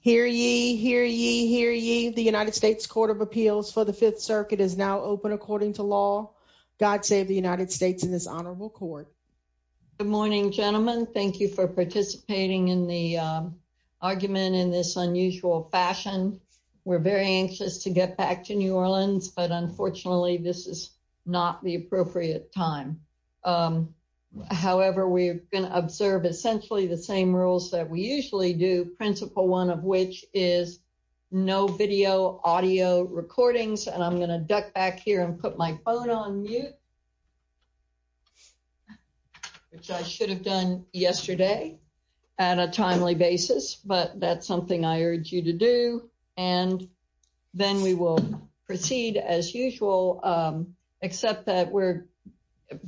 Hear ye, hear ye, hear ye. The United States Court of Appeals for the Fifth Circuit is now open according to law. God save the United States in this honorable court. Good morning, gentlemen. Thank you for participating in the argument in this unusual fashion. We're very anxious to get back to New Orleans, but unfortunately, this is not the appropriate time. However, we're going to observe essentially the same rules that we usually do, principle one of which is no video audio recordings. And I'm going to duck back here and put my phone on mute, which I should have done yesterday at a timely basis. But that's something I urge you to do. And then we will proceed as usual, except that we're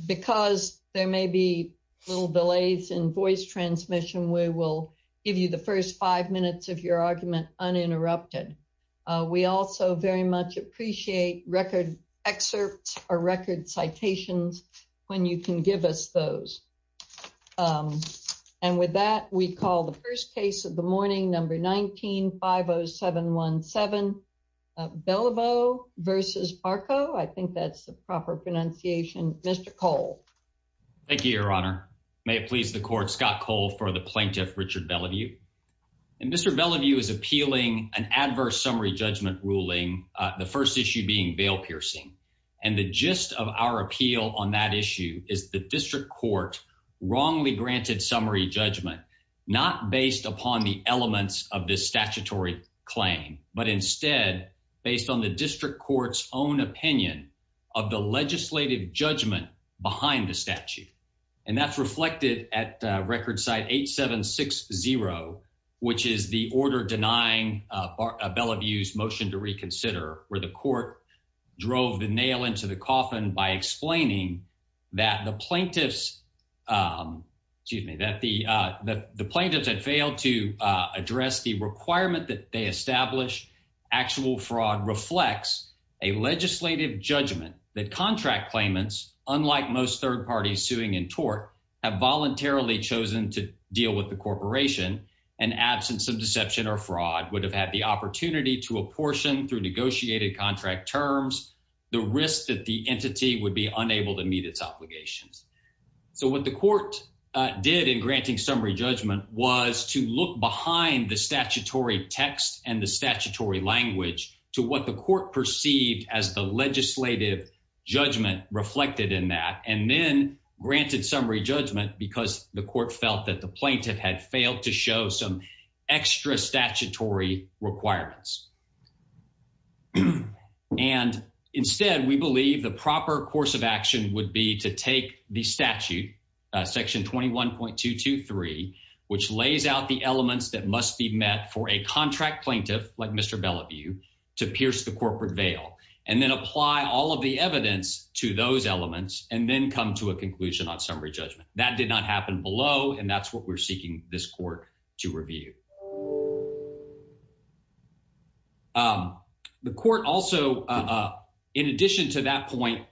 because there may be little delays in voice transmission. We will give you the first five minutes of your argument uninterrupted. We also very much appreciate record excerpts or record citations when you can give us those. And with that, we call the first case of the morning, number 19-50717, Belliveau v. Barco. I think that's the proper pronunciation. Mr. Cole. Thank you, Your Honor. May it please the court, Scott Cole for the plaintiff, Richard Belliveau. And Mr. Belliveau is appealing an adverse summary judgment ruling, the first issue being veil piercing. And the gist of our appeal on that issue is the district court wrongly granted summary judgment, not based upon the elements of this statutory claim, but instead based on the district court's own opinion of the legislative judgment behind the statute. And that's reflected at record site 8760, which is the order denying Belliveau's motion to reconsider where the court drove the nail into the coffin by explaining that the plaintiffs had failed to address the a legislative judgment that contract claimants, unlike most third parties suing in tort, have voluntarily chosen to deal with the corporation and absence of deception or fraud would have had the opportunity to apportion through negotiated contract terms, the risk that the entity would be unable to meet its obligations. So what the court did in granting summary judgment was to look behind the statutory text and the statutory language to what the court perceived as the legislative judgment reflected in that, and then granted summary judgment because the court felt that the plaintiff had failed to show some extra statutory requirements. And instead, we believe the proper course of action would be to take the statute section 21.223, which lays out the like Mr. Belliveau to pierce the corporate veil, and then apply all of the evidence to those elements and then come to a conclusion on summary judgment that did not happen below. And that's what we're seeking this court to review. The court also, in addition to that point,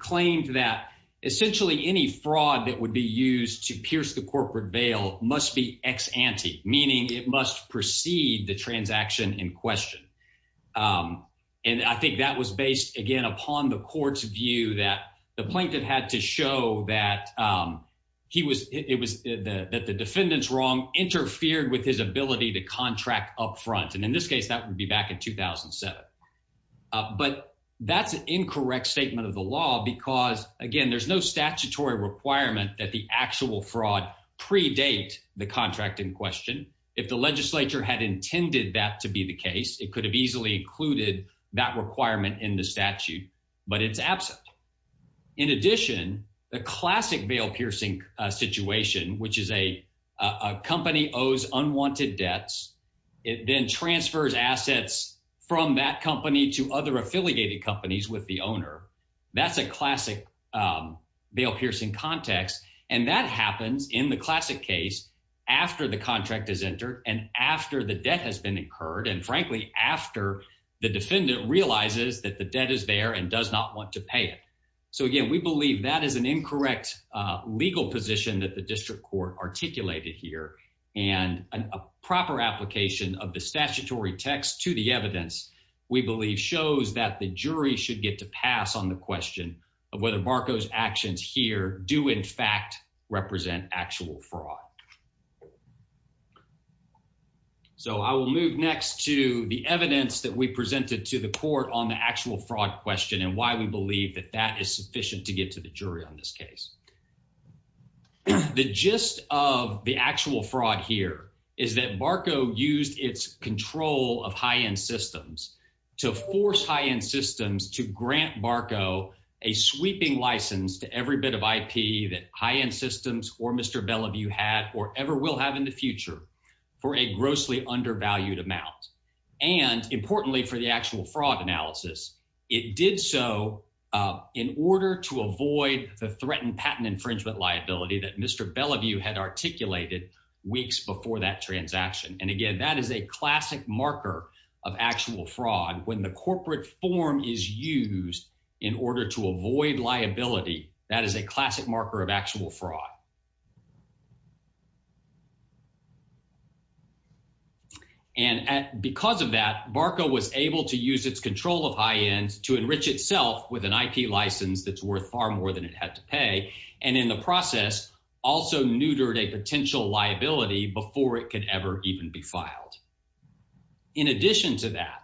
claimed that essentially any fraud that would be used to proceed the transaction in question. And I think that was based again, upon the court's view that the plaintiff had to show that he was it was the that the defendants wrong interfered with his ability to contract upfront. And in this case, that would be back in 2007. But that's an incorrect statement of the law. Because again, there's no statutory requirement that the actual fraud predate the contract in question. If the legislature had intended that to be the case, it could have easily included that requirement in the statute, but it's absent. In addition, the classic veil piercing situation, which is a company owes unwanted debts, it then transfers assets from that company to other affiliated companies with the owner. That's a classic veil piercing context. And that happens in the classic case, after the contract is entered, and after the debt has been incurred, and frankly, after the defendant realizes that the debt is there and does not want to pay it. So again, we believe that is an incorrect legal position that the district court articulated here. And a proper application of the statutory text to the evidence, we believe shows that the jury should get to pass on the question of whether Barco's actions here do in fact represent actual fraud. So I will move next to the evidence that we presented to the court on the actual fraud question and why we believe that that is sufficient to get to the jury on this case. The gist of the actual fraud here is that Barco used its control of high-end systems to force high-end systems to grant Barco a sweeping license to every bit of IP that high-end systems or Mr. Bellevue had or ever will have in the future for a grossly undervalued amount. And importantly, for the actual fraud analysis, it did so in order to avoid the threatened patent infringement liability that Mr. Bellevue had articulated weeks before that transaction. And again, that is a classic marker of actual fraud. When the corporate form is used in order to avoid liability, that is a classic marker of actual fraud. And because of that, Barco was able to use its control of high-end to enrich itself with an IP license that's worth far more than it had to pay, and in the process, also neutered a potential liability before it could ever even be filed. In addition to that,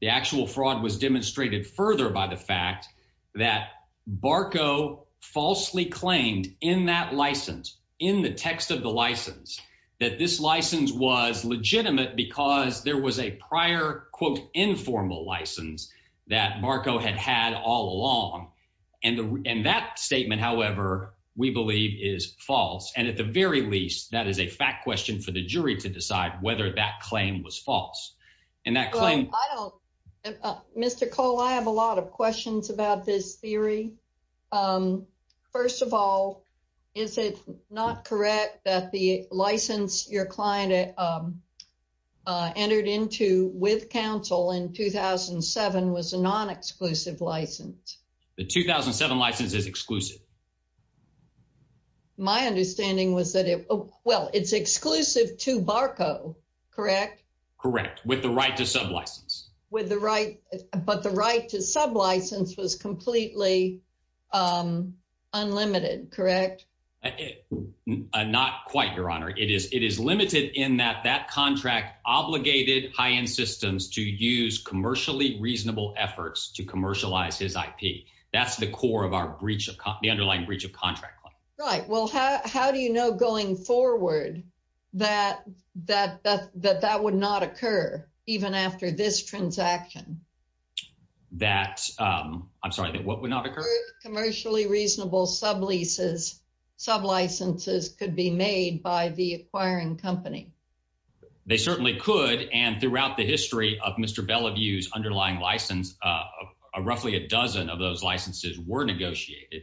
the actual fraud was demonstrated further by the fact that Barco falsely claimed in that license, in the text of the license, that this license was legitimate because there was a prior, quote, informal license that Barco had had all along. And that statement, however, we believe is false. And at the very least, that is a fact question for the jury to decide whether that claim was false. And that claim... Mr. Cole, I have a lot of questions about this theory. First of all, is it not correct that the license your client entered into with counsel in 2007 was a non-exclusive license? The 2007 license is exclusive. My understanding was that it... Well, it's exclusive to Barco, correct? Correct, with the right to sub-license. With the right... But the right to sub-license was completely unlimited, correct? Not quite, Your Honor. It is limited in that that contract obligated high-end systems to use commercially reasonable efforts to commercialize his IP. That's the core of our breach of... The underlying breach of contract claim. Right. Well, how do you know going forward that that would not occur even after this transaction? That... I'm sorry, that what would not occur? Commercially reasonable sub-licenses could be made by the acquiring company. They certainly could. And throughout the history of Mr. Bellevue's underlying license, roughly a dozen of those licenses were negotiated.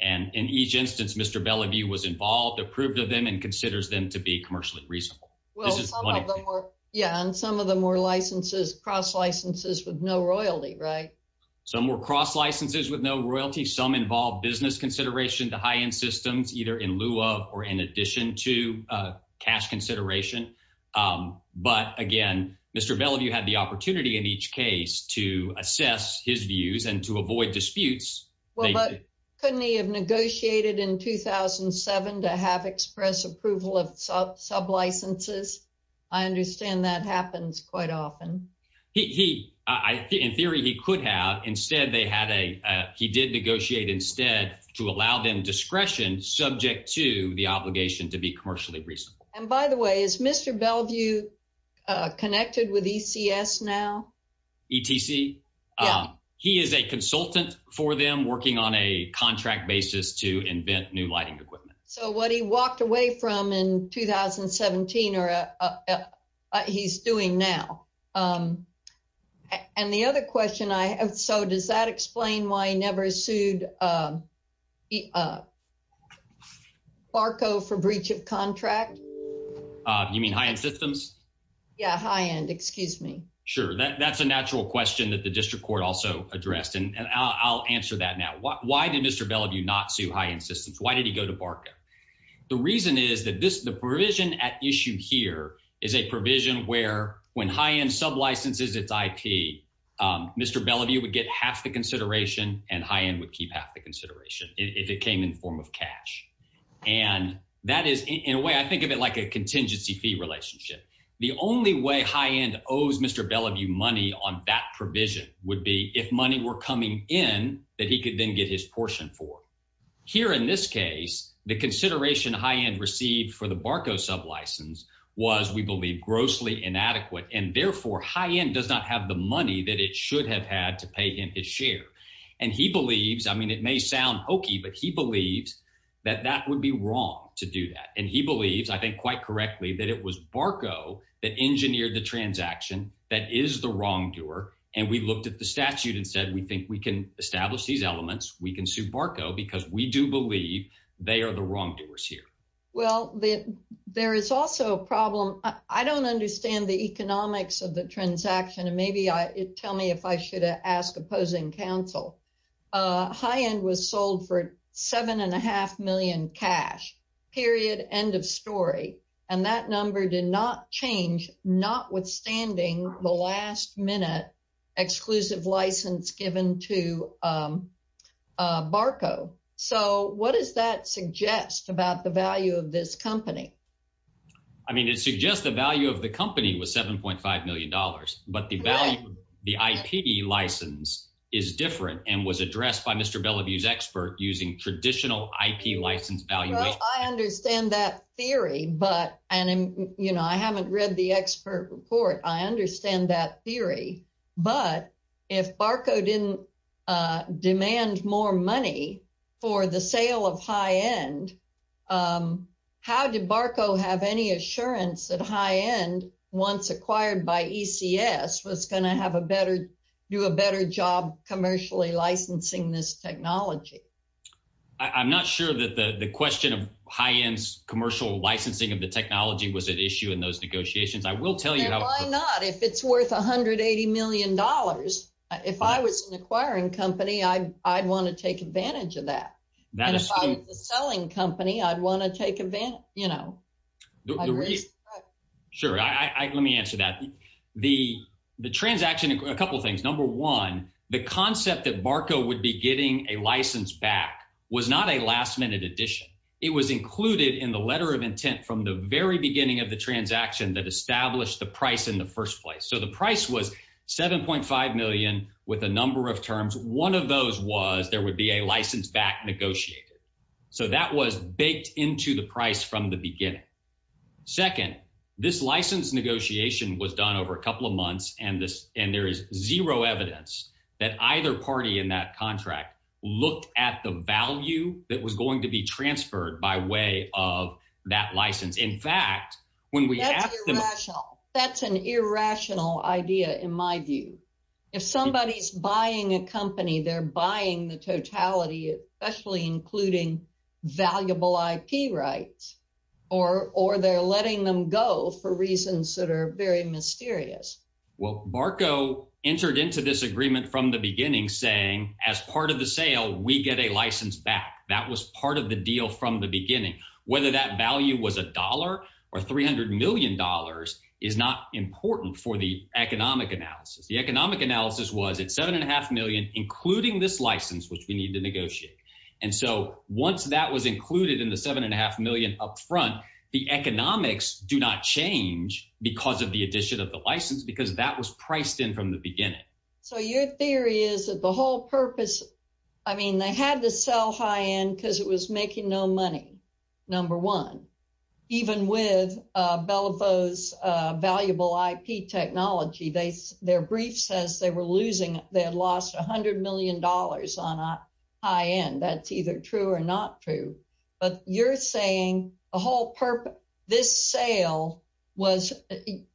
And in each instance, Mr. Bellevue was involved, approved of them, and considers them to be commercially reasonable. Well, some of them were, yeah, and some of them were licenses, cross licenses with no royalty, right? Some were cross licenses with no royalty. Some involved business consideration to high-end systems, either in lieu of or in addition to cash consideration. But again, Mr. Bellevue had the authority to assess his views and to avoid disputes. Well, but couldn't he have negotiated in 2007 to have express approval of sub-licenses? I understand that happens quite often. He... In theory, he could have. Instead, they had a... He did negotiate instead to allow them discretion subject to the obligation to be commercially reasonable. And by the way, is Mr. Bellevue connected with ECS now? ETC? Yeah. He is a consultant for them, working on a contract basis to invent new lighting equipment. So what he walked away from in 2017 or he's doing now. And the other question I have, so does that explain why he never sued Barco for breach of contract? You mean high-end systems? Yeah, high-end, excuse me. Sure. That's a natural question that the district court also addressed. And I'll answer that now. Why did Mr. Bellevue not sue high-end systems? Why did he go to Barco? The reason is that the provision at issue here is a provision where when high-end sub-licenses its IP, Mr. Bellevue would get half the consideration and high-end would keep half the consideration if it came in form of cash. And that is, in a way, I think of it like a contingency fee relationship. The only way high-end owes Mr. Bellevue money on that provision would be if money were coming in that he could then get his portion for. Here in this case, the consideration high-end received for the Barco sub-license was, we believe, grossly inadequate. And therefore, high-end does not have the money that it should have had to pay him his share. And he believes, I mean, it may sound hokey, but he believes that that would be wrong to do that. And he believes, I think quite correctly, that it was Barco that engineered the transaction that is the wrongdoer. And we looked at the statute and said, we think we can establish these elements. We can sue Barco because we do believe they are the wrongdoers here. Well, there is also a problem. I don't understand the economics of the transaction. And maybe tell me if I should ask opposing counsel. High-end was sold for $7.5 million cash, period, end of story. And that number did not change, notwithstanding the last-minute exclusive license given to Barco. So what does that suggest about the value of this company? I mean, it suggests the value of the company was $7.5 million. But the value, the IP license is different and was addressed by Mr. Bellevue's expert using traditional IP license valuation. I understand that theory. And I haven't read the expert report. I understand that theory. But if Barco didn't demand more money for the sale of high-end, how did Barco have any assurance that high-end, once acquired by ECS, was going to do a better job commercially licensing this high-end technology? Why not? If it's worth $180 million, if I was an acquiring company, I'd want to take advantage of that. And if I was a selling company, I'd want to take advantage. Sure. Let me answer that. The transaction, a couple of things. Number one, the concept that Barco would be getting a license back was not a last-minute addition. It was included in the letter of intent from the very beginning of the transaction that established the price in the first place. So the price was $7.5 million with a number of terms. One of those was there would be a license back negotiated. So that was baked into the price from the beginning. Second, this license negotiation was done over a couple of months, and there is zero evidence that either party in that contract looked at the value that was going to be transferred by way of that license. In fact, when we asked them— That's irrational. That's an irrational idea, in my view. If somebody's buying a company, they're buying the totality, especially including valuable IP rights, or they're letting them go for reasons that are very mysterious. Well, Barco entered into this agreement from the beginning saying, as part of the sale, we get a license back. That was part of the deal from the beginning. Whether that value was a dollar or $300 million is not important for the economic analysis. The economic analysis was it's included in the $7.5 million upfront. The economics do not change because of the addition of the license because that was priced in from the beginning. So your theory is that the whole purpose— I mean, they had to sell high-end because it was making no money, number one, even with Bellevue's valuable IP technology. Their brief says they had lost $100 million on high-end. That's either true or not true. But you're saying this sale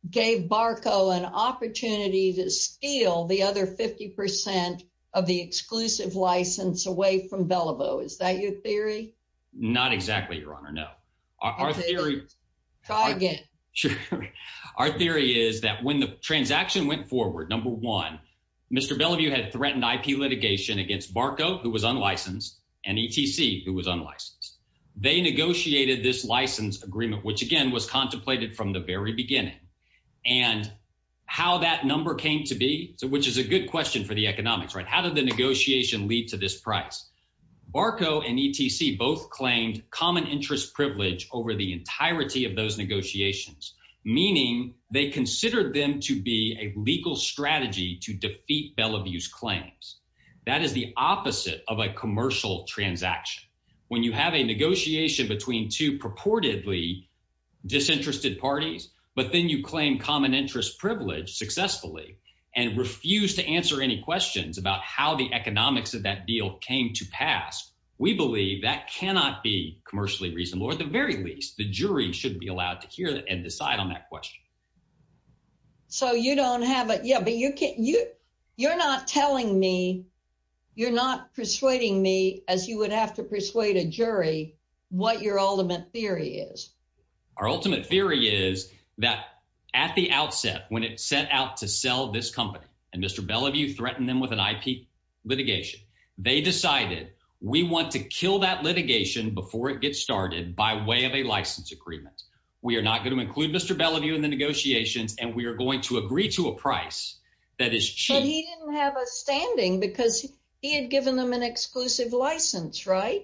gave Barco an opportunity to steal the other 50 percent of the exclusive license away from Bellevue. Is that your theory? Not exactly, Your Honor, no. Our theory— Try again. Our theory is that when the transaction went forward, number one, Mr. Bellevue had threatened IP litigation against Barco, who was unlicensed, and ETC, who was unlicensed. They negotiated this license agreement, which, again, was contemplated from the very beginning. And how that number came to be, which is a good question for the economics, right? How did the negotiation lead to this price? Barco and ETC both claimed common interest privilege over the entirety of those negotiations, meaning they considered them to be a legal strategy to defeat Bellevue's claims. That is the opposite of a commercial transaction. When you have a negotiation between two purportedly disinterested parties, but then you claim common interest privilege successfully and refuse to answer any questions about how the economics of that deal came to pass, we believe that cannot be decided on that question. So you don't have a— Yeah, but you're not telling me, you're not persuading me, as you would have to persuade a jury, what your ultimate theory is. Our ultimate theory is that at the outset, when it set out to sell this company, and Mr. Bellevue threatened them with an IP litigation, they decided, we want to kill that litigation before it gets started by way of a license agreement. We are not going to include Mr. Bellevue in the negotiations, and we are going to agree to a price that is cheap. But he didn't have a standing because he had given them an exclusive license, right?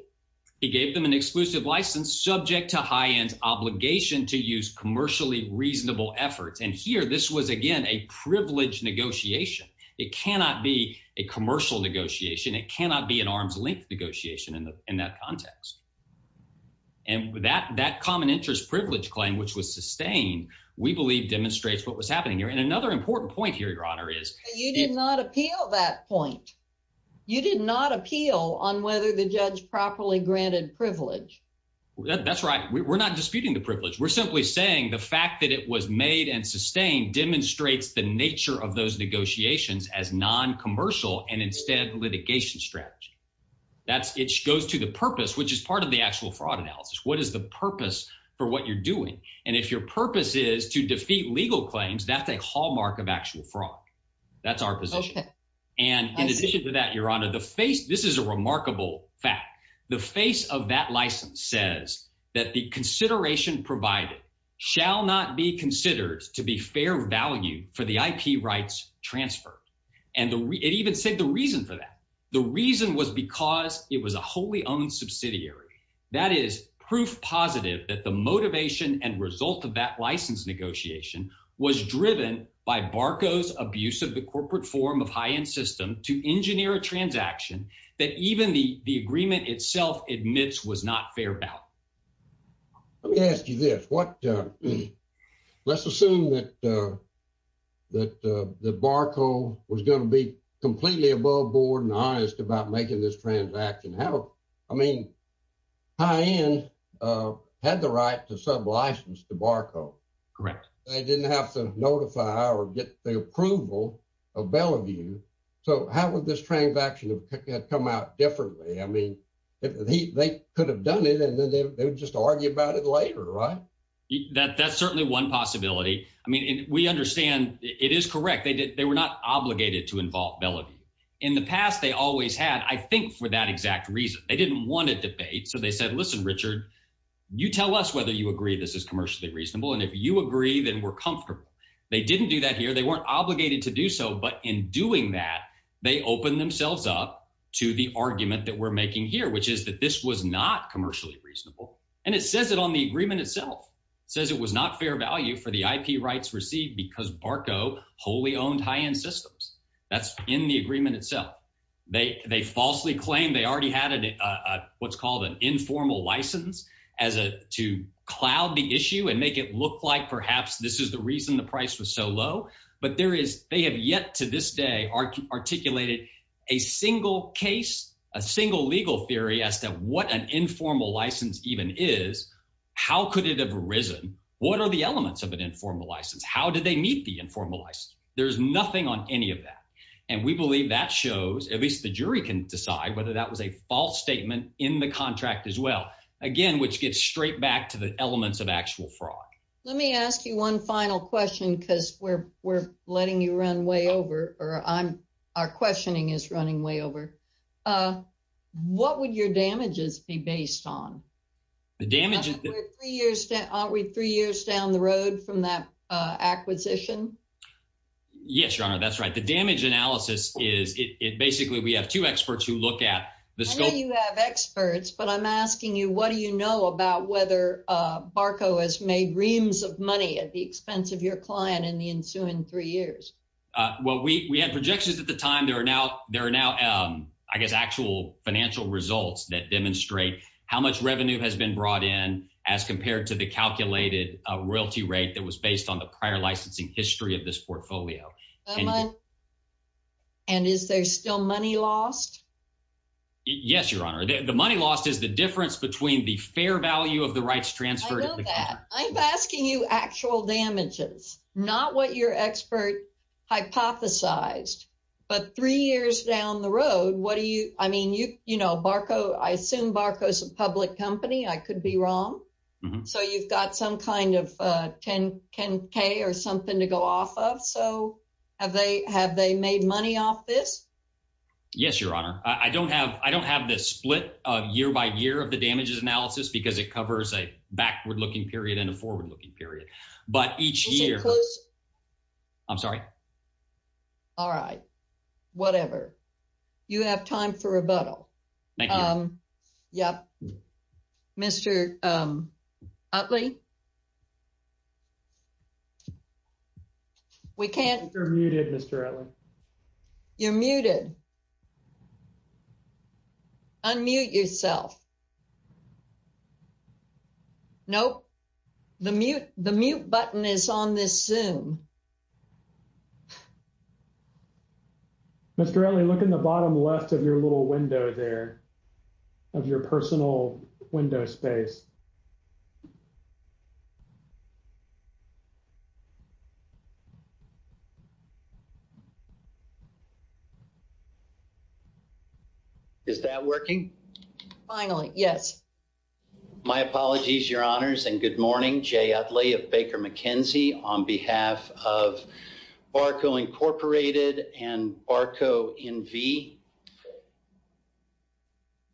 He gave them an exclusive license subject to high-end obligation to use commercially reasonable efforts. And here, this was, again, a privileged negotiation. It cannot be a commercial negotiation. It cannot be an arm's length negotiation in that context. And that common interest privilege claim, which was sustained, we believe demonstrates what was happening here. And another important point here, Your Honor, is— You did not appeal that point. You did not appeal on whether the judge properly granted privilege. That's right. We're not disputing the privilege. We're simply saying the fact that it was made and sustained demonstrates the nature of those negotiations as non-commercial and instead litigation strategy. It goes to the purpose, which is part of the actual fraud analysis. What is the purpose for what you're doing? And if your purpose is to defeat legal claims, that's a hallmark of actual fraud. That's our position. Okay. And in addition to that, Your Honor, the face— This is a remarkable fact. The face of that license says that the consideration provided shall not be considered to be fair value for the IP rights transferred. And it even said the reason for that. The reason was because it was a wholly owned subsidiary. That is proof positive that the motivation and result of that license negotiation was driven by Barco's abuse of the corporate form of high-end system to engineer a transaction that even the agreement itself admits was not fair value. Let me ask you this. Let's assume that Barco was going to be completely above board and honest about making this transaction. I mean, high-end had the right to sublicense to Barco. Correct. They didn't have to notify or get the approval of Bellevue. So how would this transaction come out differently? I mean, they could have done it and then they would just argue about it later, right? That's certainly one possibility. I mean, we understand it is correct. They were not obligated to involve Bellevue. In the past, they always had, I think, for that exact reason. They didn't want a debate. So they said, listen, Richard, you tell us whether you agree this is commercially reasonable. And if you agree, then we're comfortable. They didn't do that here. They weren't obligated to do so. But in doing that, they opened themselves up to the argument that we're making here, which is that this was not commercially reasonable. And it says it on the agreement itself. It says it was not fair value for the IP rights received because Barco wholly owned high-end systems. That's in the agreement itself. They falsely claim they already had what's called an informal license to cloud the issue and make it look like, this is the reason the price was so low. But they have yet to this day articulated a single case, a single legal theory as to what an informal license even is. How could it have arisen? What are the elements of an informal license? How did they meet the informal license? There's nothing on any of that. And we believe that shows, at least the jury can decide whether that was a false statement in the contract as well. Again, which gets straight back to the elements of actual fraud. Let me ask you one final question, because we're letting you run way over, or our questioning is running way over. What would your damages be based on? Aren't we three years down the road from that acquisition? Yes, Your Honor, that's right. The damage analysis is, it basically, we have two experts who look at the scope- I know you have experts, but I'm asking you, what do you know about whether Barco has made reams of money at the expense of your client in the ensuing three years? Well, we had projections at the time. There are now, I guess, actual financial results that demonstrate how much revenue has been brought in as compared to the calculated royalty rate that was based on the prior licensing history of this portfolio. And is there still money lost? Yes, Your Honor. The money lost is the difference between the fair value of the rights transferred- I know that. I'm asking you actual damages, not what your expert hypothesized. But three years down the road, what do you, I mean, you know, Barco, I assume Barco's a public company. I could be wrong. So you've got some kind of 10K or something to go off of. So have they made money off this? Yes, Your Honor. I don't have this split of year by year of the damages analysis because it covers a backward-looking period and a forward-looking period. But each year- I'm sorry? All right. Whatever. You have time for rebuttal. Yep. Mr. Utley? We can't- You're muted, Mr. Utley. You're muted. Unmute yourself. Nope. The mute button is on this Zoom. Mr. Utley, look in the bottom left of your little window there, of your personal window space. Is that working? Finally, yes. My apologies, Your Honors, and good morning. Jay Utley of Baker McKenzie on behalf of Barco Incorporated and Barco NV.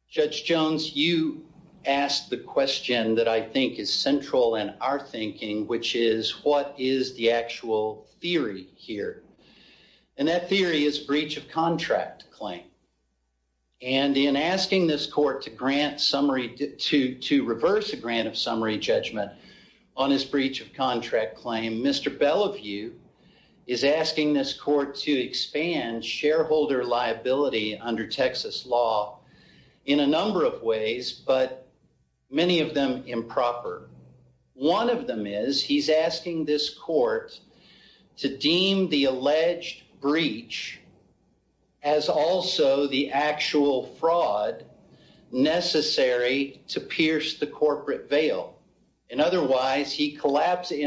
Judge Jones, you asked the question that I think is central in our theory is breach of contract claim. And in asking this court to grant summary- to reverse a grant of summary judgment on his breach of contract claim, Mr. Bellevue is asking this court to expand shareholder liability under Texas law in a number of ways, but many of them improper. One of them is he's asking this court to deem the alleged breach as also the actual fraud necessary to pierce the corporate veil. In other words, he collapses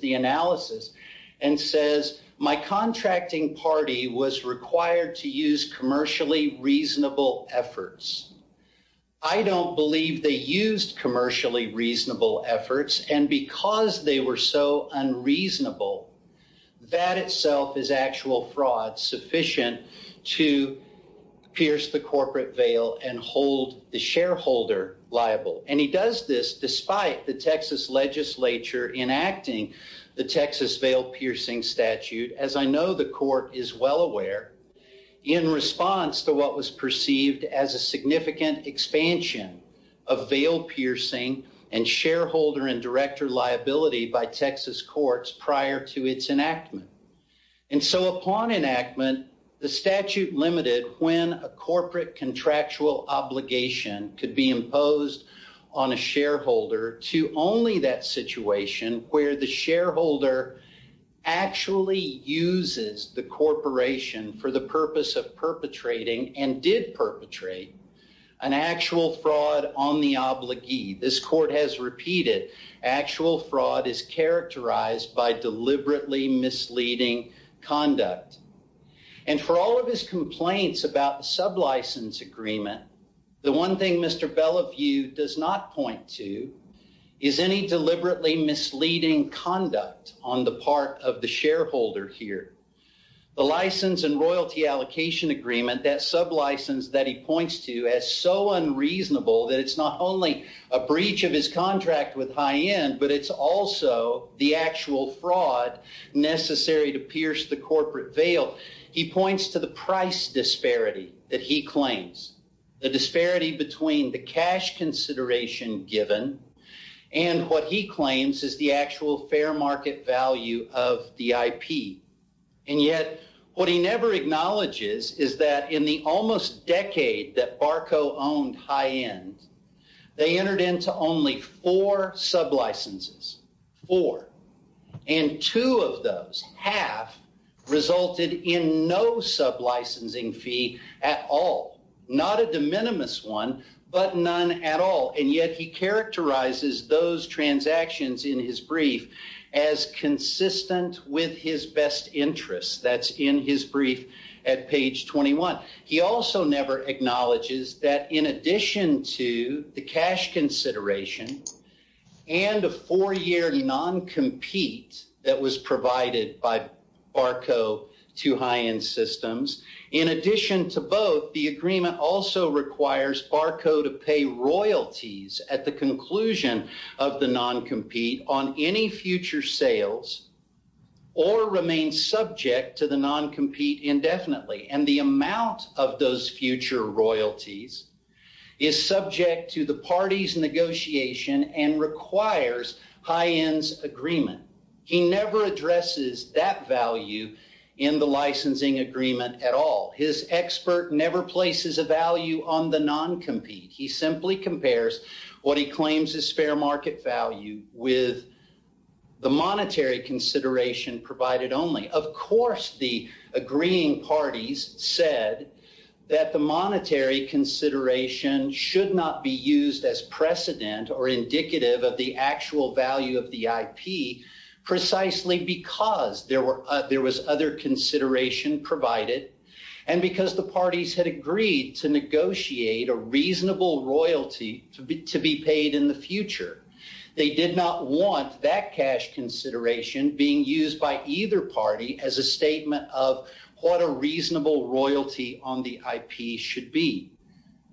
the analysis and says, my contracting party was required to use commercially reasonable efforts. I don't believe they used commercially reasonable efforts, and because they were so unreasonable, that itself is actual fraud sufficient to pierce the corporate veil and hold the shareholder liable. And he does this despite the Texas legislature enacting the Texas Veil Piercing Statute. As I know, the court is well aware, in response to what was perceived as a significant expansion of veil piercing and shareholder and director liability by Texas courts prior to its enactment. And so upon enactment, the statute limited when a corporate contractual obligation could be imposed on a shareholder to only that situation where the shareholder actually uses the corporation for the purpose of perpetrating and did perpetrate an actual fraud on the obligee. This court has repeated actual fraud is characterized by deliberately misleading conduct. And for all of his complaints about the sublicense agreement, the one thing Mr. Bellevue does not point to is any deliberately misleading conduct on the part of the shareholder here. The license and royalty allocation agreement, that sublicense that he points to as so unreasonable that it's not only a breach of his contract with high end, but it's also the actual fraud necessary to pierce the corporate veil. He points to the price disparity that he claims. The disparity between the cash consideration given and what he claims is the fair market value of the IP. And yet, what he never acknowledges is that in the almost decade that Barco owned high end, they entered into only four sublicenses. Four. And two of those, half, resulted in no sublicensing fee at all. Not a de minimis one, but none at all. And yet, he characterizes those transactions in his brief as consistent with his best interest. That's in his brief at page 21. He also never acknowledges that in addition to the cash consideration and the four year noncompete that was provided by Barco to high end systems, in addition to both, the agreement also requires Barco to pay royalties at the conclusion of the noncompete on any future sales or remain subject to the noncompete indefinitely. And the amount of those future royalties is subject to the party's negotiation and requires high end's agreement. He never places a value on the noncompete. He simply compares what he claims is fair market value with the monetary consideration provided only. Of course, the agreeing parties said that the monetary consideration should not be used as precedent or indicative of the actual value of the negotiate a reasonable royalty to be paid in the future. They did not want that cash consideration being used by either party as a statement of what a reasonable royalty on the IP should be.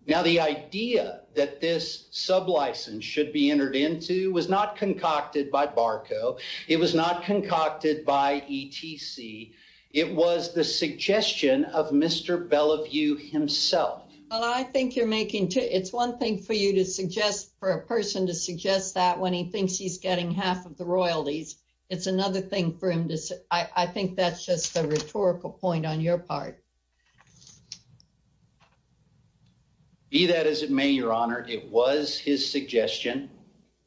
Now, the idea that this sublicense should be entered into was not concocted by Barco. It was concocted by ETC. It was the suggestion of Mr. Bellevue himself. Well, I think you're making it's one thing for you to suggest for a person to suggest that when he thinks he's getting half of the royalties. It's another thing for him to say. I think that's just the rhetorical point on your part. Be that as it may, your honor, it was his suggestion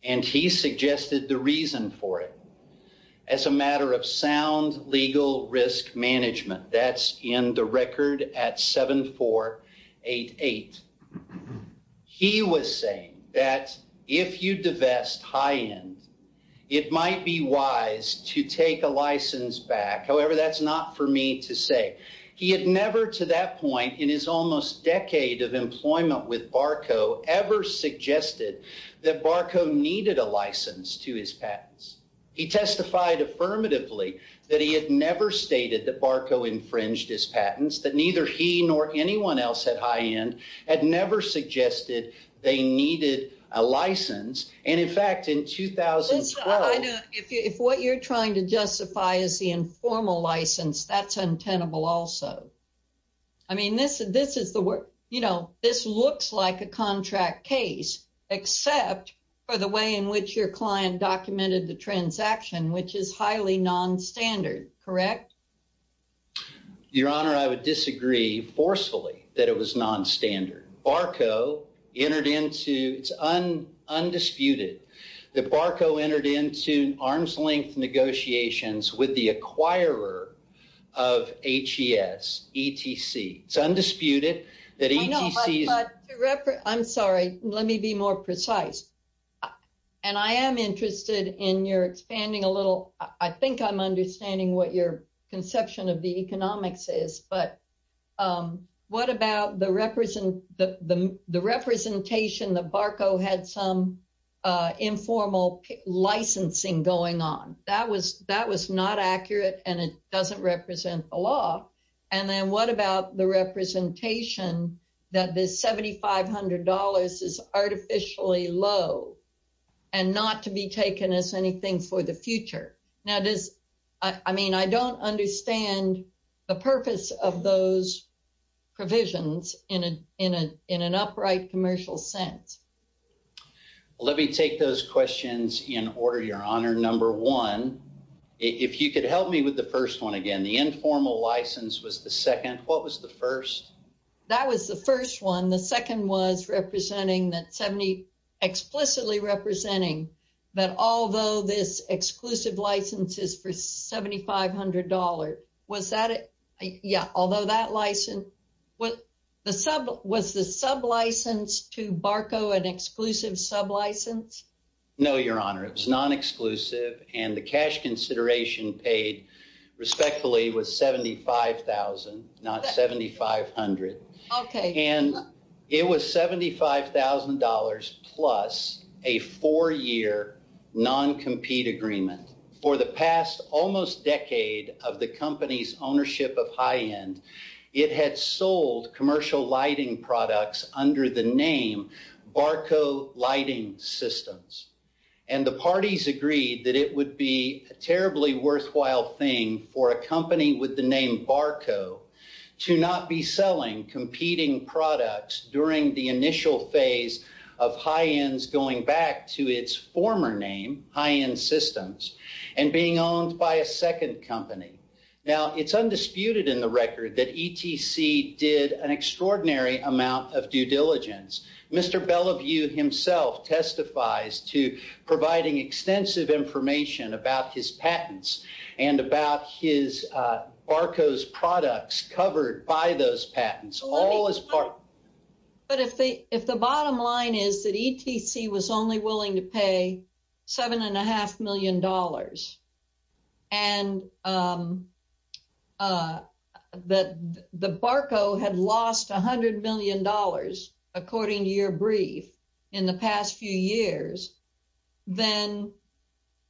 and he suggested the reason for it as a matter of sound legal risk management. That's in the record at 7488. He was saying that if you divest high end, it might be wise to take a license back. However, that's not for me to say. He had never to that point in his almost decade of employment with Barco ever suggested that Barco needed a license to his patents. He testified affirmatively that he had never stated that Barco infringed his patents, that neither he nor anyone else at high end had never suggested they needed a license. And in fact, in 2012, if what you're trying to like a contract case, except for the way in which your client documented the transaction, which is highly nonstandard, correct? Your honor, I would disagree forcefully that it was nonstandard. Barco entered into its own undisputed that Barco entered into arms-length negotiations with the acquirer of HES, ETC. It's undisputed that ETC is. I'm sorry, let me be more precise. And I am interested in your expanding a little. I think I'm understanding what your conception of the economics is, but what about the representation that Barco had some informal licensing going on? That was not accurate and it doesn't represent the law. And then what about the representation that this $7,500 is artificially low and not to be taken as anything for the future? Now this, I mean, I don't understand the purpose of those provisions in an upright commercial sense. Let me take those questions in order, your honor. Number one, if you could help me with the first one again, the informal license was the second. What was the first? That was the first one. The second was representing that 70 explicitly representing that although this exclusive license is for $7,500. Was that it? Yeah. Although that license was the sub was the sub license to Barco an exclusive sub license? No, your honor. It was non-exclusive and the cash consideration paid respectfully was $75,000, not $7,500. Okay. And it was $75,000 plus a four year non-compete agreement for the past almost decade of the company's ownership of high end. It had sold commercial lighting products under the name Barco lighting systems. And the parties agreed that it would be a terribly worthwhile thing for a company with the name Barco to not be selling competing products during the initial phase of high ends going back to its former name high end systems and being owned by a second company. Now it's undisputed in the record that ETC did an extraordinary amount of due diligence. Mr. Bellevue himself testifies to providing extensive information about his patents and about his Barco's products covered by those patents all as part. But if the if the bottom line is that ETC was only willing to pay seven and a half million dollars and that the Barco had lost a hundred million according to your brief in the past few years, then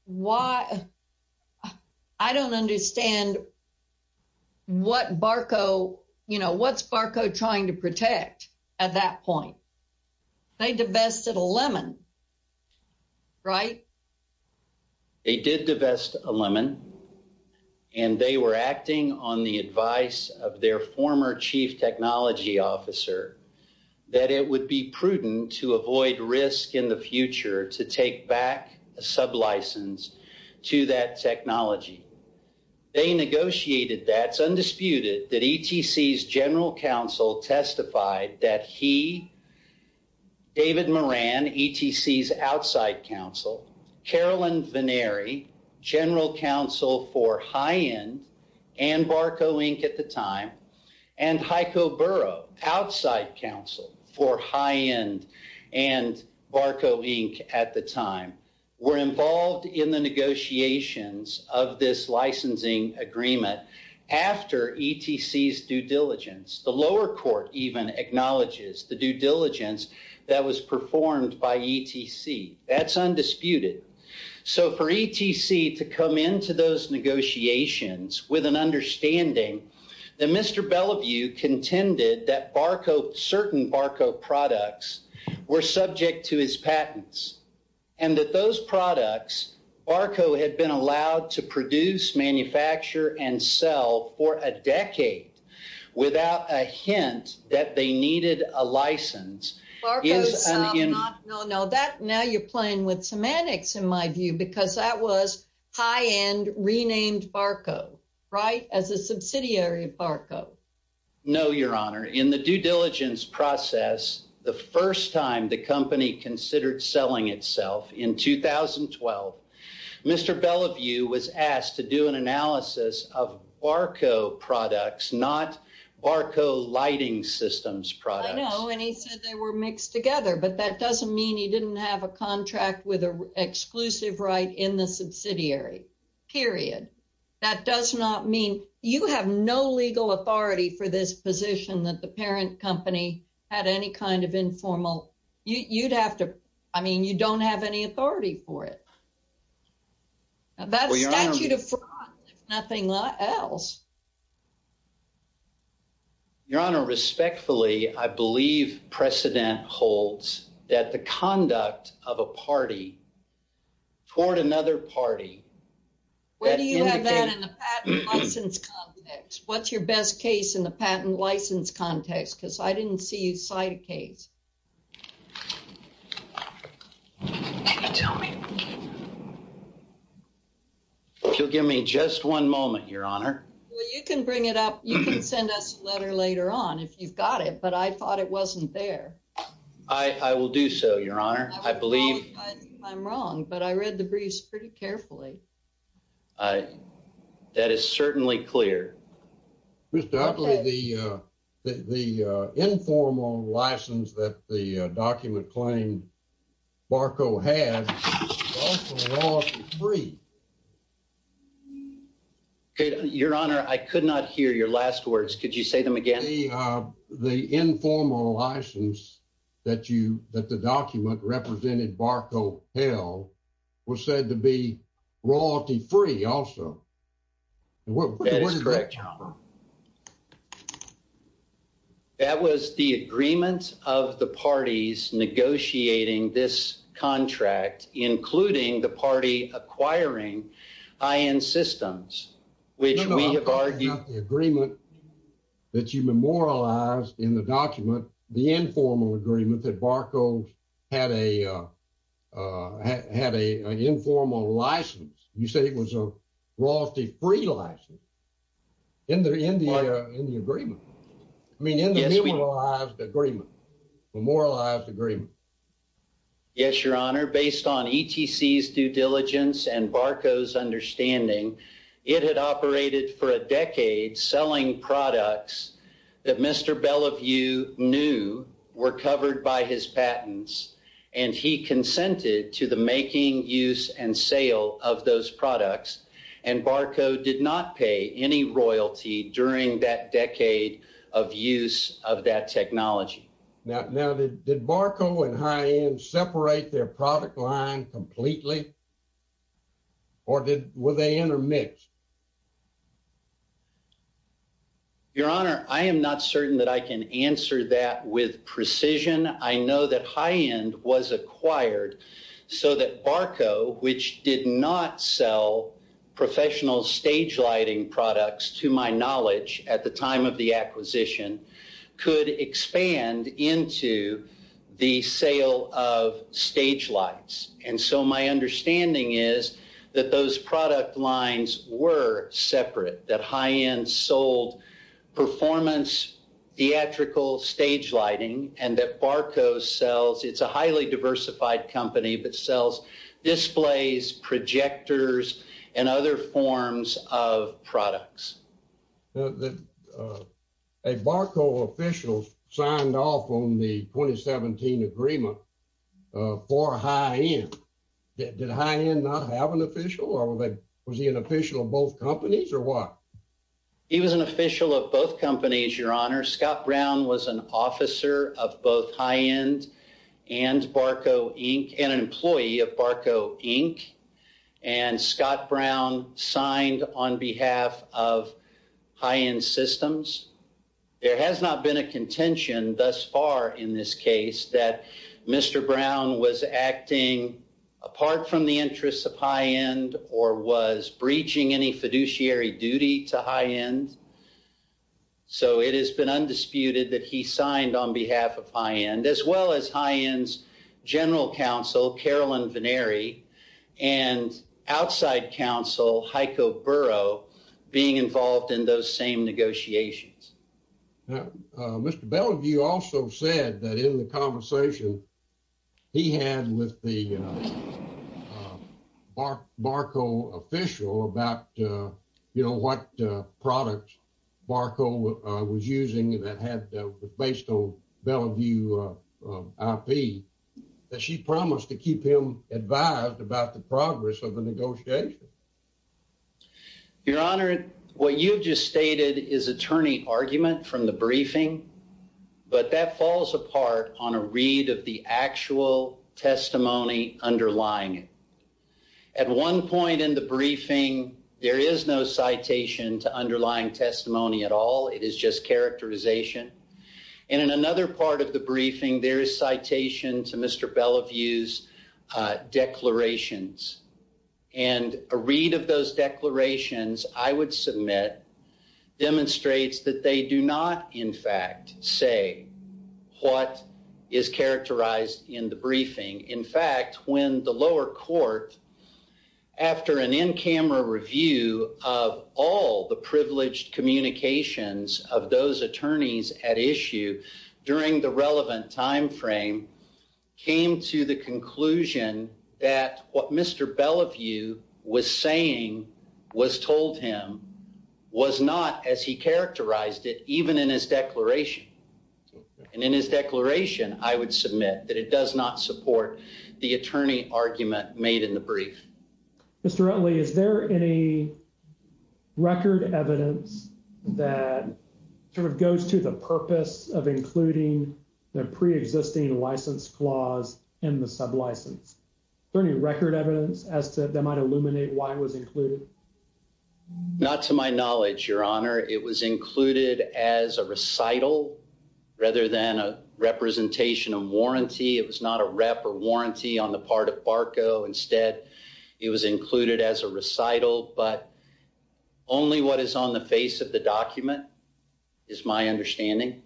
why, I don't understand what Barco, you know, what's Barco trying to protect at that point? They divested a lemon, right? They did divest a lemon and they were acting on the advice of their former chief technology officer that it would be prudent to avoid risk in the future to take back a sub license to that technology. They negotiated that. It's undisputed that ETC's general counsel testified that he, David Moran, ETC's outside counsel, Carolyn Venary, general counsel for high end and Barco Inc. at the time, and Heiko Burrow, outside counsel for high end and Barco Inc. at the time, were involved in the negotiations of this licensing agreement after ETC's due diligence. The lower court even acknowledges the due diligence that was performed by ETC. That's with an understanding that Mr. Bellevue contended that Barco, certain Barco products were subject to his patents and that those products, Barco had been allowed to produce, manufacture and sell for a decade without a hint that they needed a license. No, no, that now you're playing with semantics in my view because that was high end renamed Barco. Right? As a subsidiary of Barco. No, your honor. In the due diligence process, the first time the company considered selling itself in 2012, Mr. Bellevue was asked to do an analysis of Barco products, not Barco lighting systems products. I know, and he said they were mixed together, but that doesn't mean he didn't have a contract with an exclusive right in the You have no legal authority for this position that the parent company had any kind of informal, you'd have to, I mean, you don't have any authority for it. That statute of fraud, if nothing else. Your honor, respectfully, I believe precedent holds that the conduct of a party toward another party. Where do you have that in the patent license context? What's your best case in the patent license context? Because I didn't see you cite a case. Can you tell me? If you'll give me just one moment, your honor. Well, you can bring it up. You can send us a letter later on if you've got it, but I thought it wasn't there. I will do so, your honor. I believe I'm wrong, but I read the briefs pretty carefully. That is certainly clear. Mr. Utley, the informal license that the document claimed Barco had was also lawful free. Your honor, I could not hear your last words. Could you say them again? The informal license that you, that the document represented Barco held was said to be royalty free also. That was the agreement of the parties negotiating this contract, including the party acquiring high-end systems, which we have argued. No, no, I'm talking about the agreement that you memorialized in the document, the informal agreement that Barco had an informal license. You said it was a royalty free license in the agreement. I mean, in the memorialized agreement. Memorialized agreement. Yes, your honor. Based on ETC's due diligence and Barco's understanding, it had operated for a decade selling products that Mr. Bellevue knew were covered by his patents. And he consented to the making use and sale of those products. And Barco did not pay any royalty during that decade of use of that technology. Now, did Barco and high-end separate their product line completely? Or were they intermixed? Your honor, I am not certain that I can answer that with precision. I know that high-end was acquired so that Barco, which did not sell professional stage lighting products to my into the sale of stage lights. And so my understanding is that those product lines were separate, that high-end sold performance theatrical stage lighting and that Barco sells, it's a highly diversified company, but sells displays, projectors, and other forms of products. Now, a Barco official signed off on the 2017 agreement for high-end. Did high-end not have an official or was he an official of both companies or what? He was an official of both companies, your honor. Scott Brown was an officer of both high-end and Barco Inc. and an employee of Barco Inc. And Scott Brown signed on behalf of high-end systems. There has not been a contention thus far in this case that Mr. Brown was acting apart from the interests of high-end or was breaching any fiduciary duty to high-end. So it has been undisputed that he signed on behalf of high-end and outside counsel Heiko Burrow being involved in those same negotiations. Mr. Bellevue also said that in the conversation he had with the Barco official about what product Barco was using that had based on Bellevue IP that she promised to keep him advised about the progress of the negotiation. Your honor, what you've just stated is attorney argument from the briefing, but that falls apart on a read of the actual testimony underlying it. At one point in the briefing, there is no citation to underlying testimony at all. It is just characterization. And in another part of the briefing, there is citation to Mr. Bellevue's declarations. And a read of those declarations, I would submit, demonstrates that they do not, in fact, say what is characterized in the briefing. In fact, when the lower court, after an in-camera review of all the privileged communications of those attorneys at issue during the relevant time frame, came to the conclusion that what Mr. Bellevue was saying was told him was not as he characterized it, even in his declaration. And in his declaration, I would submit that it does not support the attorney argument made in the brief. Mr. Rutley, is there any record evidence that sort of goes to the purpose of including the pre-existing license clause in the sublicense? Is there any record evidence as to that might illuminate why it was included? Not to my knowledge, Your Honor. It was included as a recital rather than a representation of warranty. It was not a rep or warranty on the part of Barco. Instead, it was included as a recital. But only what is on the face of the document is my understanding.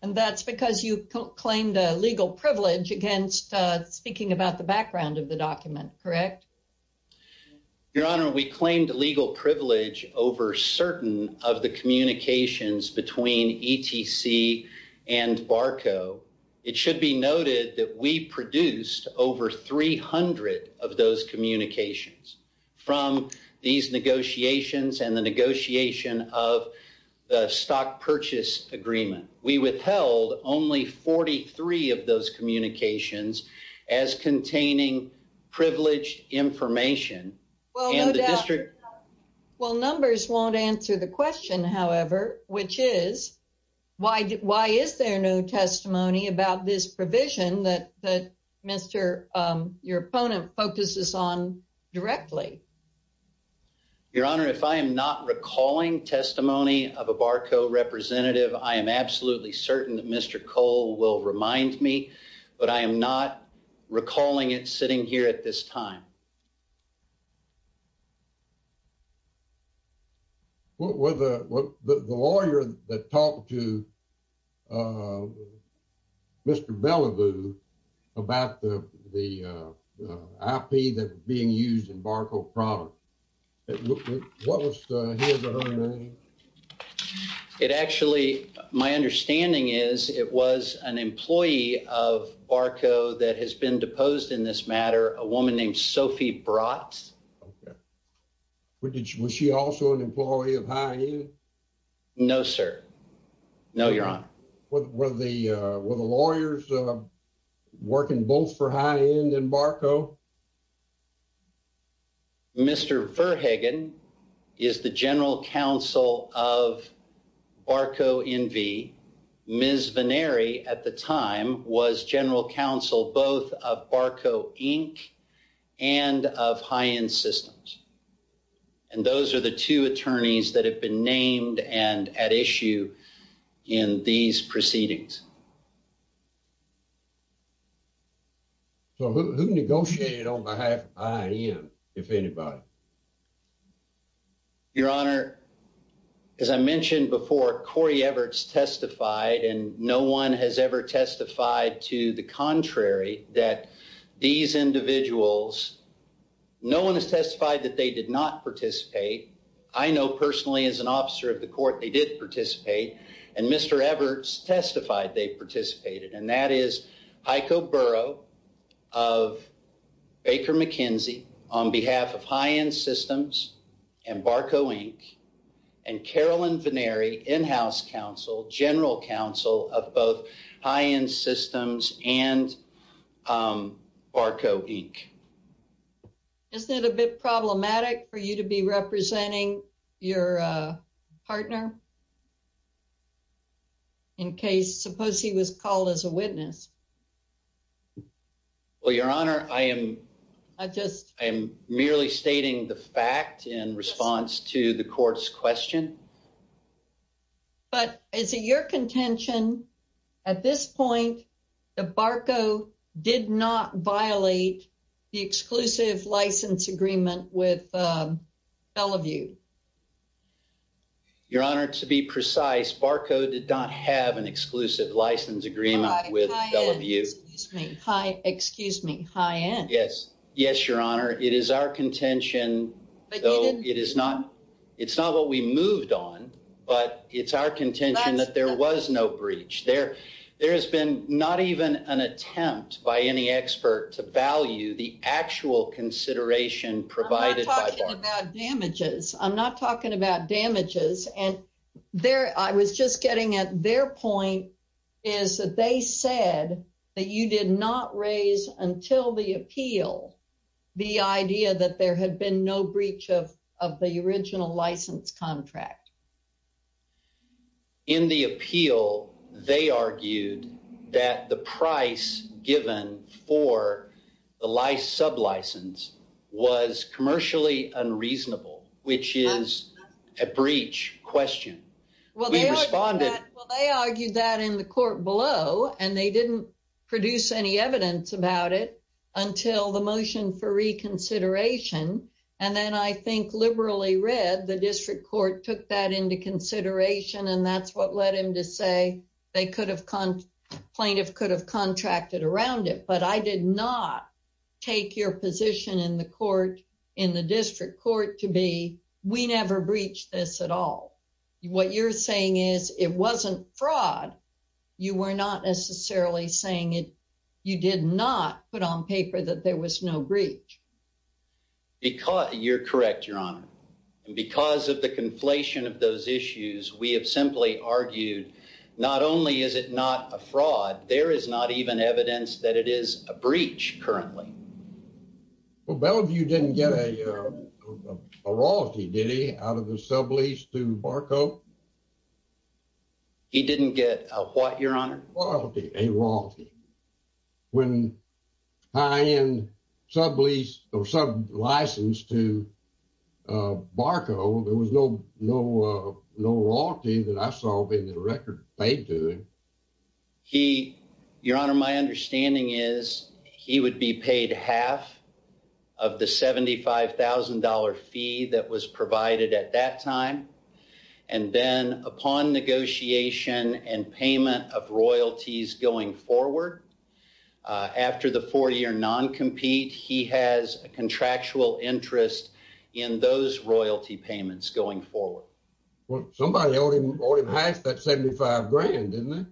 And that's because you claimed a legal privilege against speaking about the background of the document, correct? Your Honor, we claimed legal privilege over certain of the communications between ETC and Barco. It should be noted that we produced over 300 of those communications from these negotiations and the negotiation of the stock purchase agreement. We withheld only 43 of those communications as containing privileged information. Well, numbers won't answer the question, however, which is why is there no testimony about this provision that your opponent focuses on directly? Your Honor, if I am not recalling of a Barco representative, I am absolutely certain that Mr. Cole will remind me, but I am not recalling it sitting here at this time. Well, the lawyer that talked to Mr. Bellevue about the IP that's being used in Barco product, it looked what was his or her name? It actually, my understanding is it was an employee of Barco that has been deposed in this matter, a woman named Sophie Brotz. Okay. Was she also an employee of High End? No, sir. No, your Honor. Were the lawyers working both for High End and Barco? Mr. Verhagen is the general counsel of Barco NV. Ms. Venneri at the time was general counsel both of Barco Inc. and of High End Systems. And those are the two attorneys that have been named and at issue in these proceedings. Okay. So who negotiated on behalf of High End, if anybody? Your Honor, as I mentioned before, Corey Everts testified and no one has ever testified to the contrary that these individuals, no one has testified that they did not participate. I know personally as an officer of the court, they did participate. And Mr. Everts testified they participated. And that is Heiko Burrow of Baker McKenzie on behalf of High End Systems and Barco Inc. and Carolyn Venneri, in-house counsel, general counsel of both High End Systems and Barco Inc. Isn't it a bit problematic for you to be representing your partner in case, suppose he was called as a witness? Well, your Honor, I am merely stating the fact in response to the court's question. But is it your contention at this point that Barco did not violate the exclusive license agreement with Bellevue? Your Honor, to be precise, Barco did not have an exclusive license agreement with Bellevue. High, High End, excuse me. High, excuse me, High End. Yes. Yes, your Honor. It is our contention, though it is not, it's not what we moved on, but it's our contention that there was no breach. There has been not even an attempt by any expert to value the actual consideration provided by Barco. I'm not talking about damages. I was just getting at their point is that they said that you did not raise until the appeal the idea that there had been no breach of the original license contract. In the appeal, they argued that the price given for the sub license was commercially unreasonable, which is a breach question. Well, they responded. Well, they argued that in the court below, and they didn't produce any evidence about it until the motion for reconsideration. And then I think liberally read the district court took that into consideration. And that's plaintiff could have contracted around it. But I did not take your position in the court, in the district court to be we never breached this at all. What you're saying is it wasn't fraud. You were not necessarily saying it. You did not put on paper that there was no breach. Because you're correct, your Honor. And because of the conflation of those issues, we have simply argued not only is it not a fraud, there is not even evidence that it is a breach currently. Well, Bellevue didn't get a royalty, did he, out of the sublease to Barco? He didn't get a what, your Honor? A royalty. When high-end sublease or sub license to Barco, there was no royalty that I saw being in the record paid to him. Your Honor, my understanding is he would be paid half of the $75,000 fee that was provided at that time. And then upon negotiation and payment of royalties going forward, after the 40-year non-compete, he has a contractual interest in those royalty payments going forward. Well, somebody owed him half that $75,000, didn't they?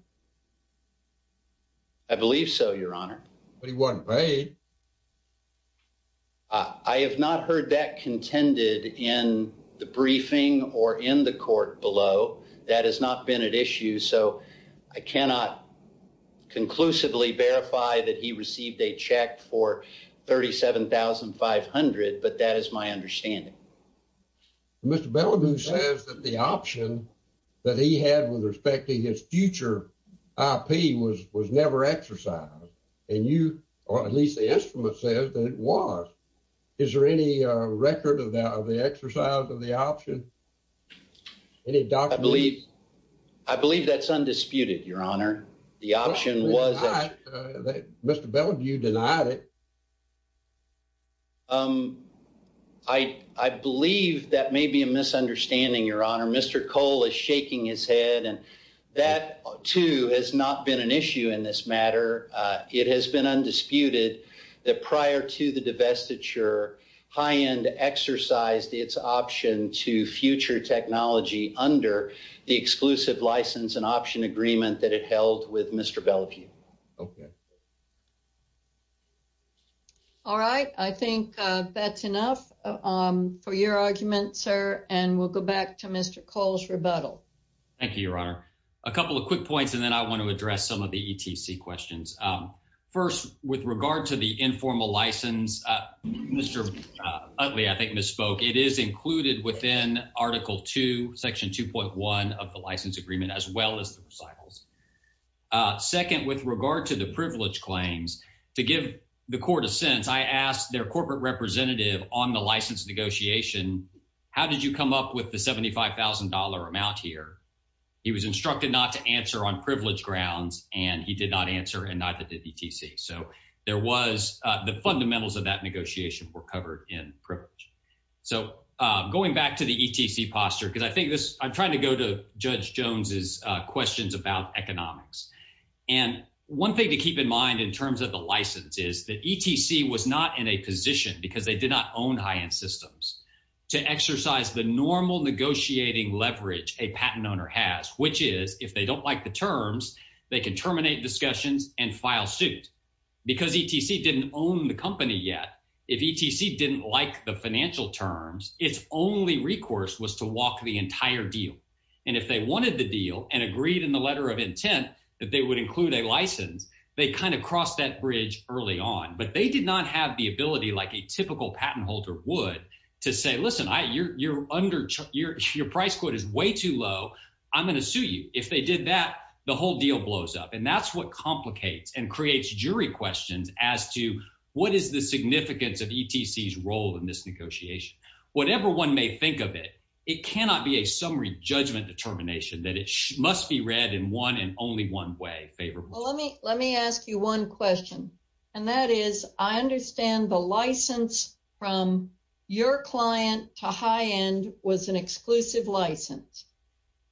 I believe so, your Honor. But he wasn't paid. I have not heard that contended in the briefing or in the court below. That has not been an issue. So I cannot conclusively verify that he received a check for $37,500, but that is my understanding. Mr. Bellevue says that the option that he had with respect to his future IP was never exercised, and you, or at least the instrument says that it was. Is there any record of the exercise of the undisputed, your Honor? Mr. Bellevue denied it. I believe that may be a misunderstanding, your Honor. Mr. Cole is shaking his head, and that too has not been an issue in this matter. It has been undisputed that prior to the divestiture, High End exercised its option to future technology under the exclusive license and option agreement that it held with Mr. Bellevue. Okay. All right. I think that's enough for your argument, sir, and we'll go back to Mr. Cole's rebuttal. Thank you, your Honor. A couple of quick points, and then I want to address some of the ETC questions. First, with regard to the informal license, Mr. Utley, I think, misspoke. It is included within Article II, Section 2.1 of the license agreement, as well as the recitals. Second, with regard to the privilege claims, to give the Court a sense, I asked their corporate representative on the license negotiation, how did you come up with the $75,000 amount here? He was instructed not to answer on privilege grounds, and he did not answer, and neither did ETC. So, there was, the fundamentals of that negotiation were covered in privilege. So, going back to the ETC posture, because I think this, I'm trying to go to Judge Jones's questions about economics, and one thing to keep in mind in terms of the license is that ETC was not in a position, because they did not own high-end systems, to exercise the normal negotiating leverage a patent owner has, which is, if they don't like the terms, they can terminate discussions and file suit. Because ETC didn't own the company yet, if ETC didn't like the financial terms, its only recourse was to walk the entire deal, and if they wanted the deal and agreed in the letter of intent that they would include a license, they kind of crossed that bridge early on, but they did not have the ability, like a typical patent holder would, to say, listen, you're under, your price quote is way too low, I'm going to sue you. If they did that, the whole deal blows up, and that's what complicates and creates jury questions as to what is the significance of ETC's role in this negotiation. Whatever one may think of it, it cannot be a summary judgment determination that it must be read in one and only one way favorably. Let me ask you one question, and that is, I understand the license from your client to high end was an exclusive license,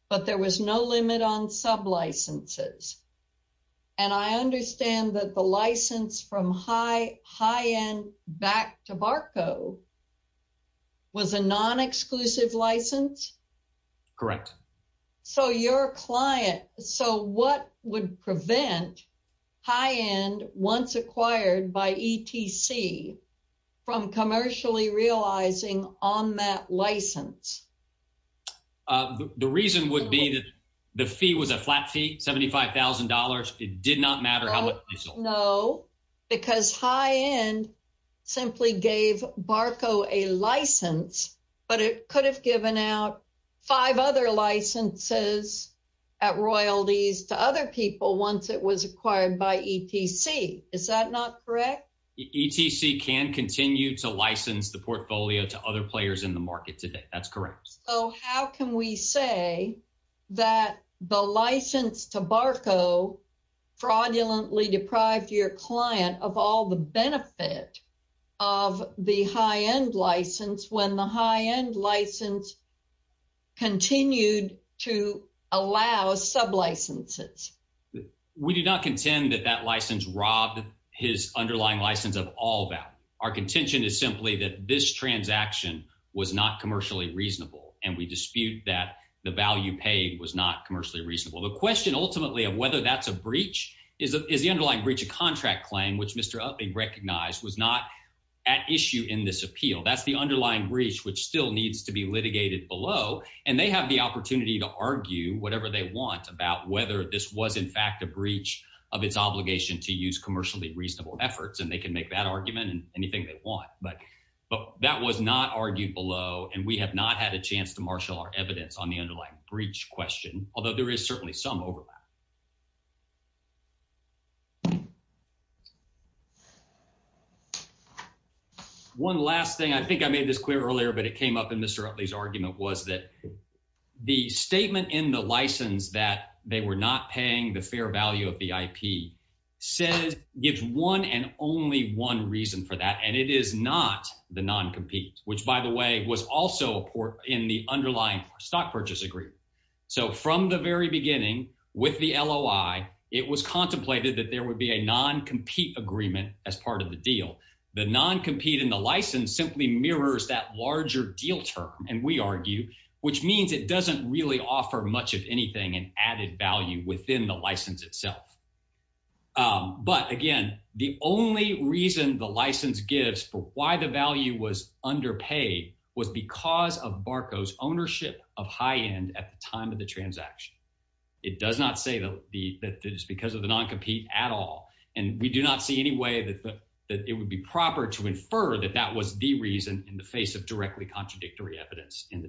but there was no limit on sub licenses, and I understand that the license from high end back to Barco was a non-exclusive license? Correct. So your client, so what would prevent high end, once acquired by ETC, from commercially realizing on that license? The reason would be that the fee was a flat fee, $75,000, it did not matter how much they sold. No, because high end simply gave Barco a license, but it could have given out five other licenses at royalties to other people once it was acquired by ETC, is that not correct? ETC can continue to license the portfolio to other players in the market today, that's correct. So how can we say that the license to Barco fraudulently deprived your client of all the allow sub licenses? We do not contend that that license robbed his underlying license of all value. Our contention is simply that this transaction was not commercially reasonable, and we dispute that the value paid was not commercially reasonable. The question ultimately of whether that's a breach is the underlying breach of contract claim, which Mr. Uppy recognized was not at issue in this appeal. That's the underlying breach, which still needs to be litigated below, and they have the opportunity to argue whatever they want about whether this was, in fact, a breach of its obligation to use commercially reasonable efforts, and they can make that argument and anything they want. But that was not argued below, and we have not had a chance to marshal our evidence on the underlying breach question, although there is certainly some overlap. One last thing, I think I made this clear earlier, but it came up in Mr. Utley's argument, was that the statement in the license that they were not paying the fair value of the IP gives one and only one reason for that, and it is not the non-compete, which, by the way, was also in the underlying stock purchase agreement. So from the very beginning with the LOI, it was contemplated that there would be a non-compete agreement as part of the deal. The non-compete in the license simply mirrors that larger deal term, and we argue, which means it doesn't really offer much of anything in added value within the license itself. But again, the only reason the license gives for why the value was underpaid was because of Barco's ownership of high end at the time of the transaction. It does not say that it is because of the non-compete at all, and we do not see any way that it would be proper to infer that that was the reason in the face of directly contradictory evidence in the document.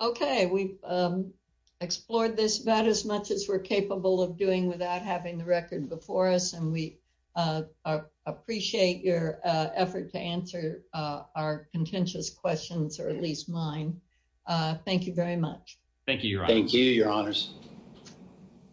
Okay, we've explored this about as much as we're capable of doing without having the record before us, and we appreciate your effort to answer our contentious questions, or at least mine. Thank you very much. Thank you, your honor. Thank you, your honors.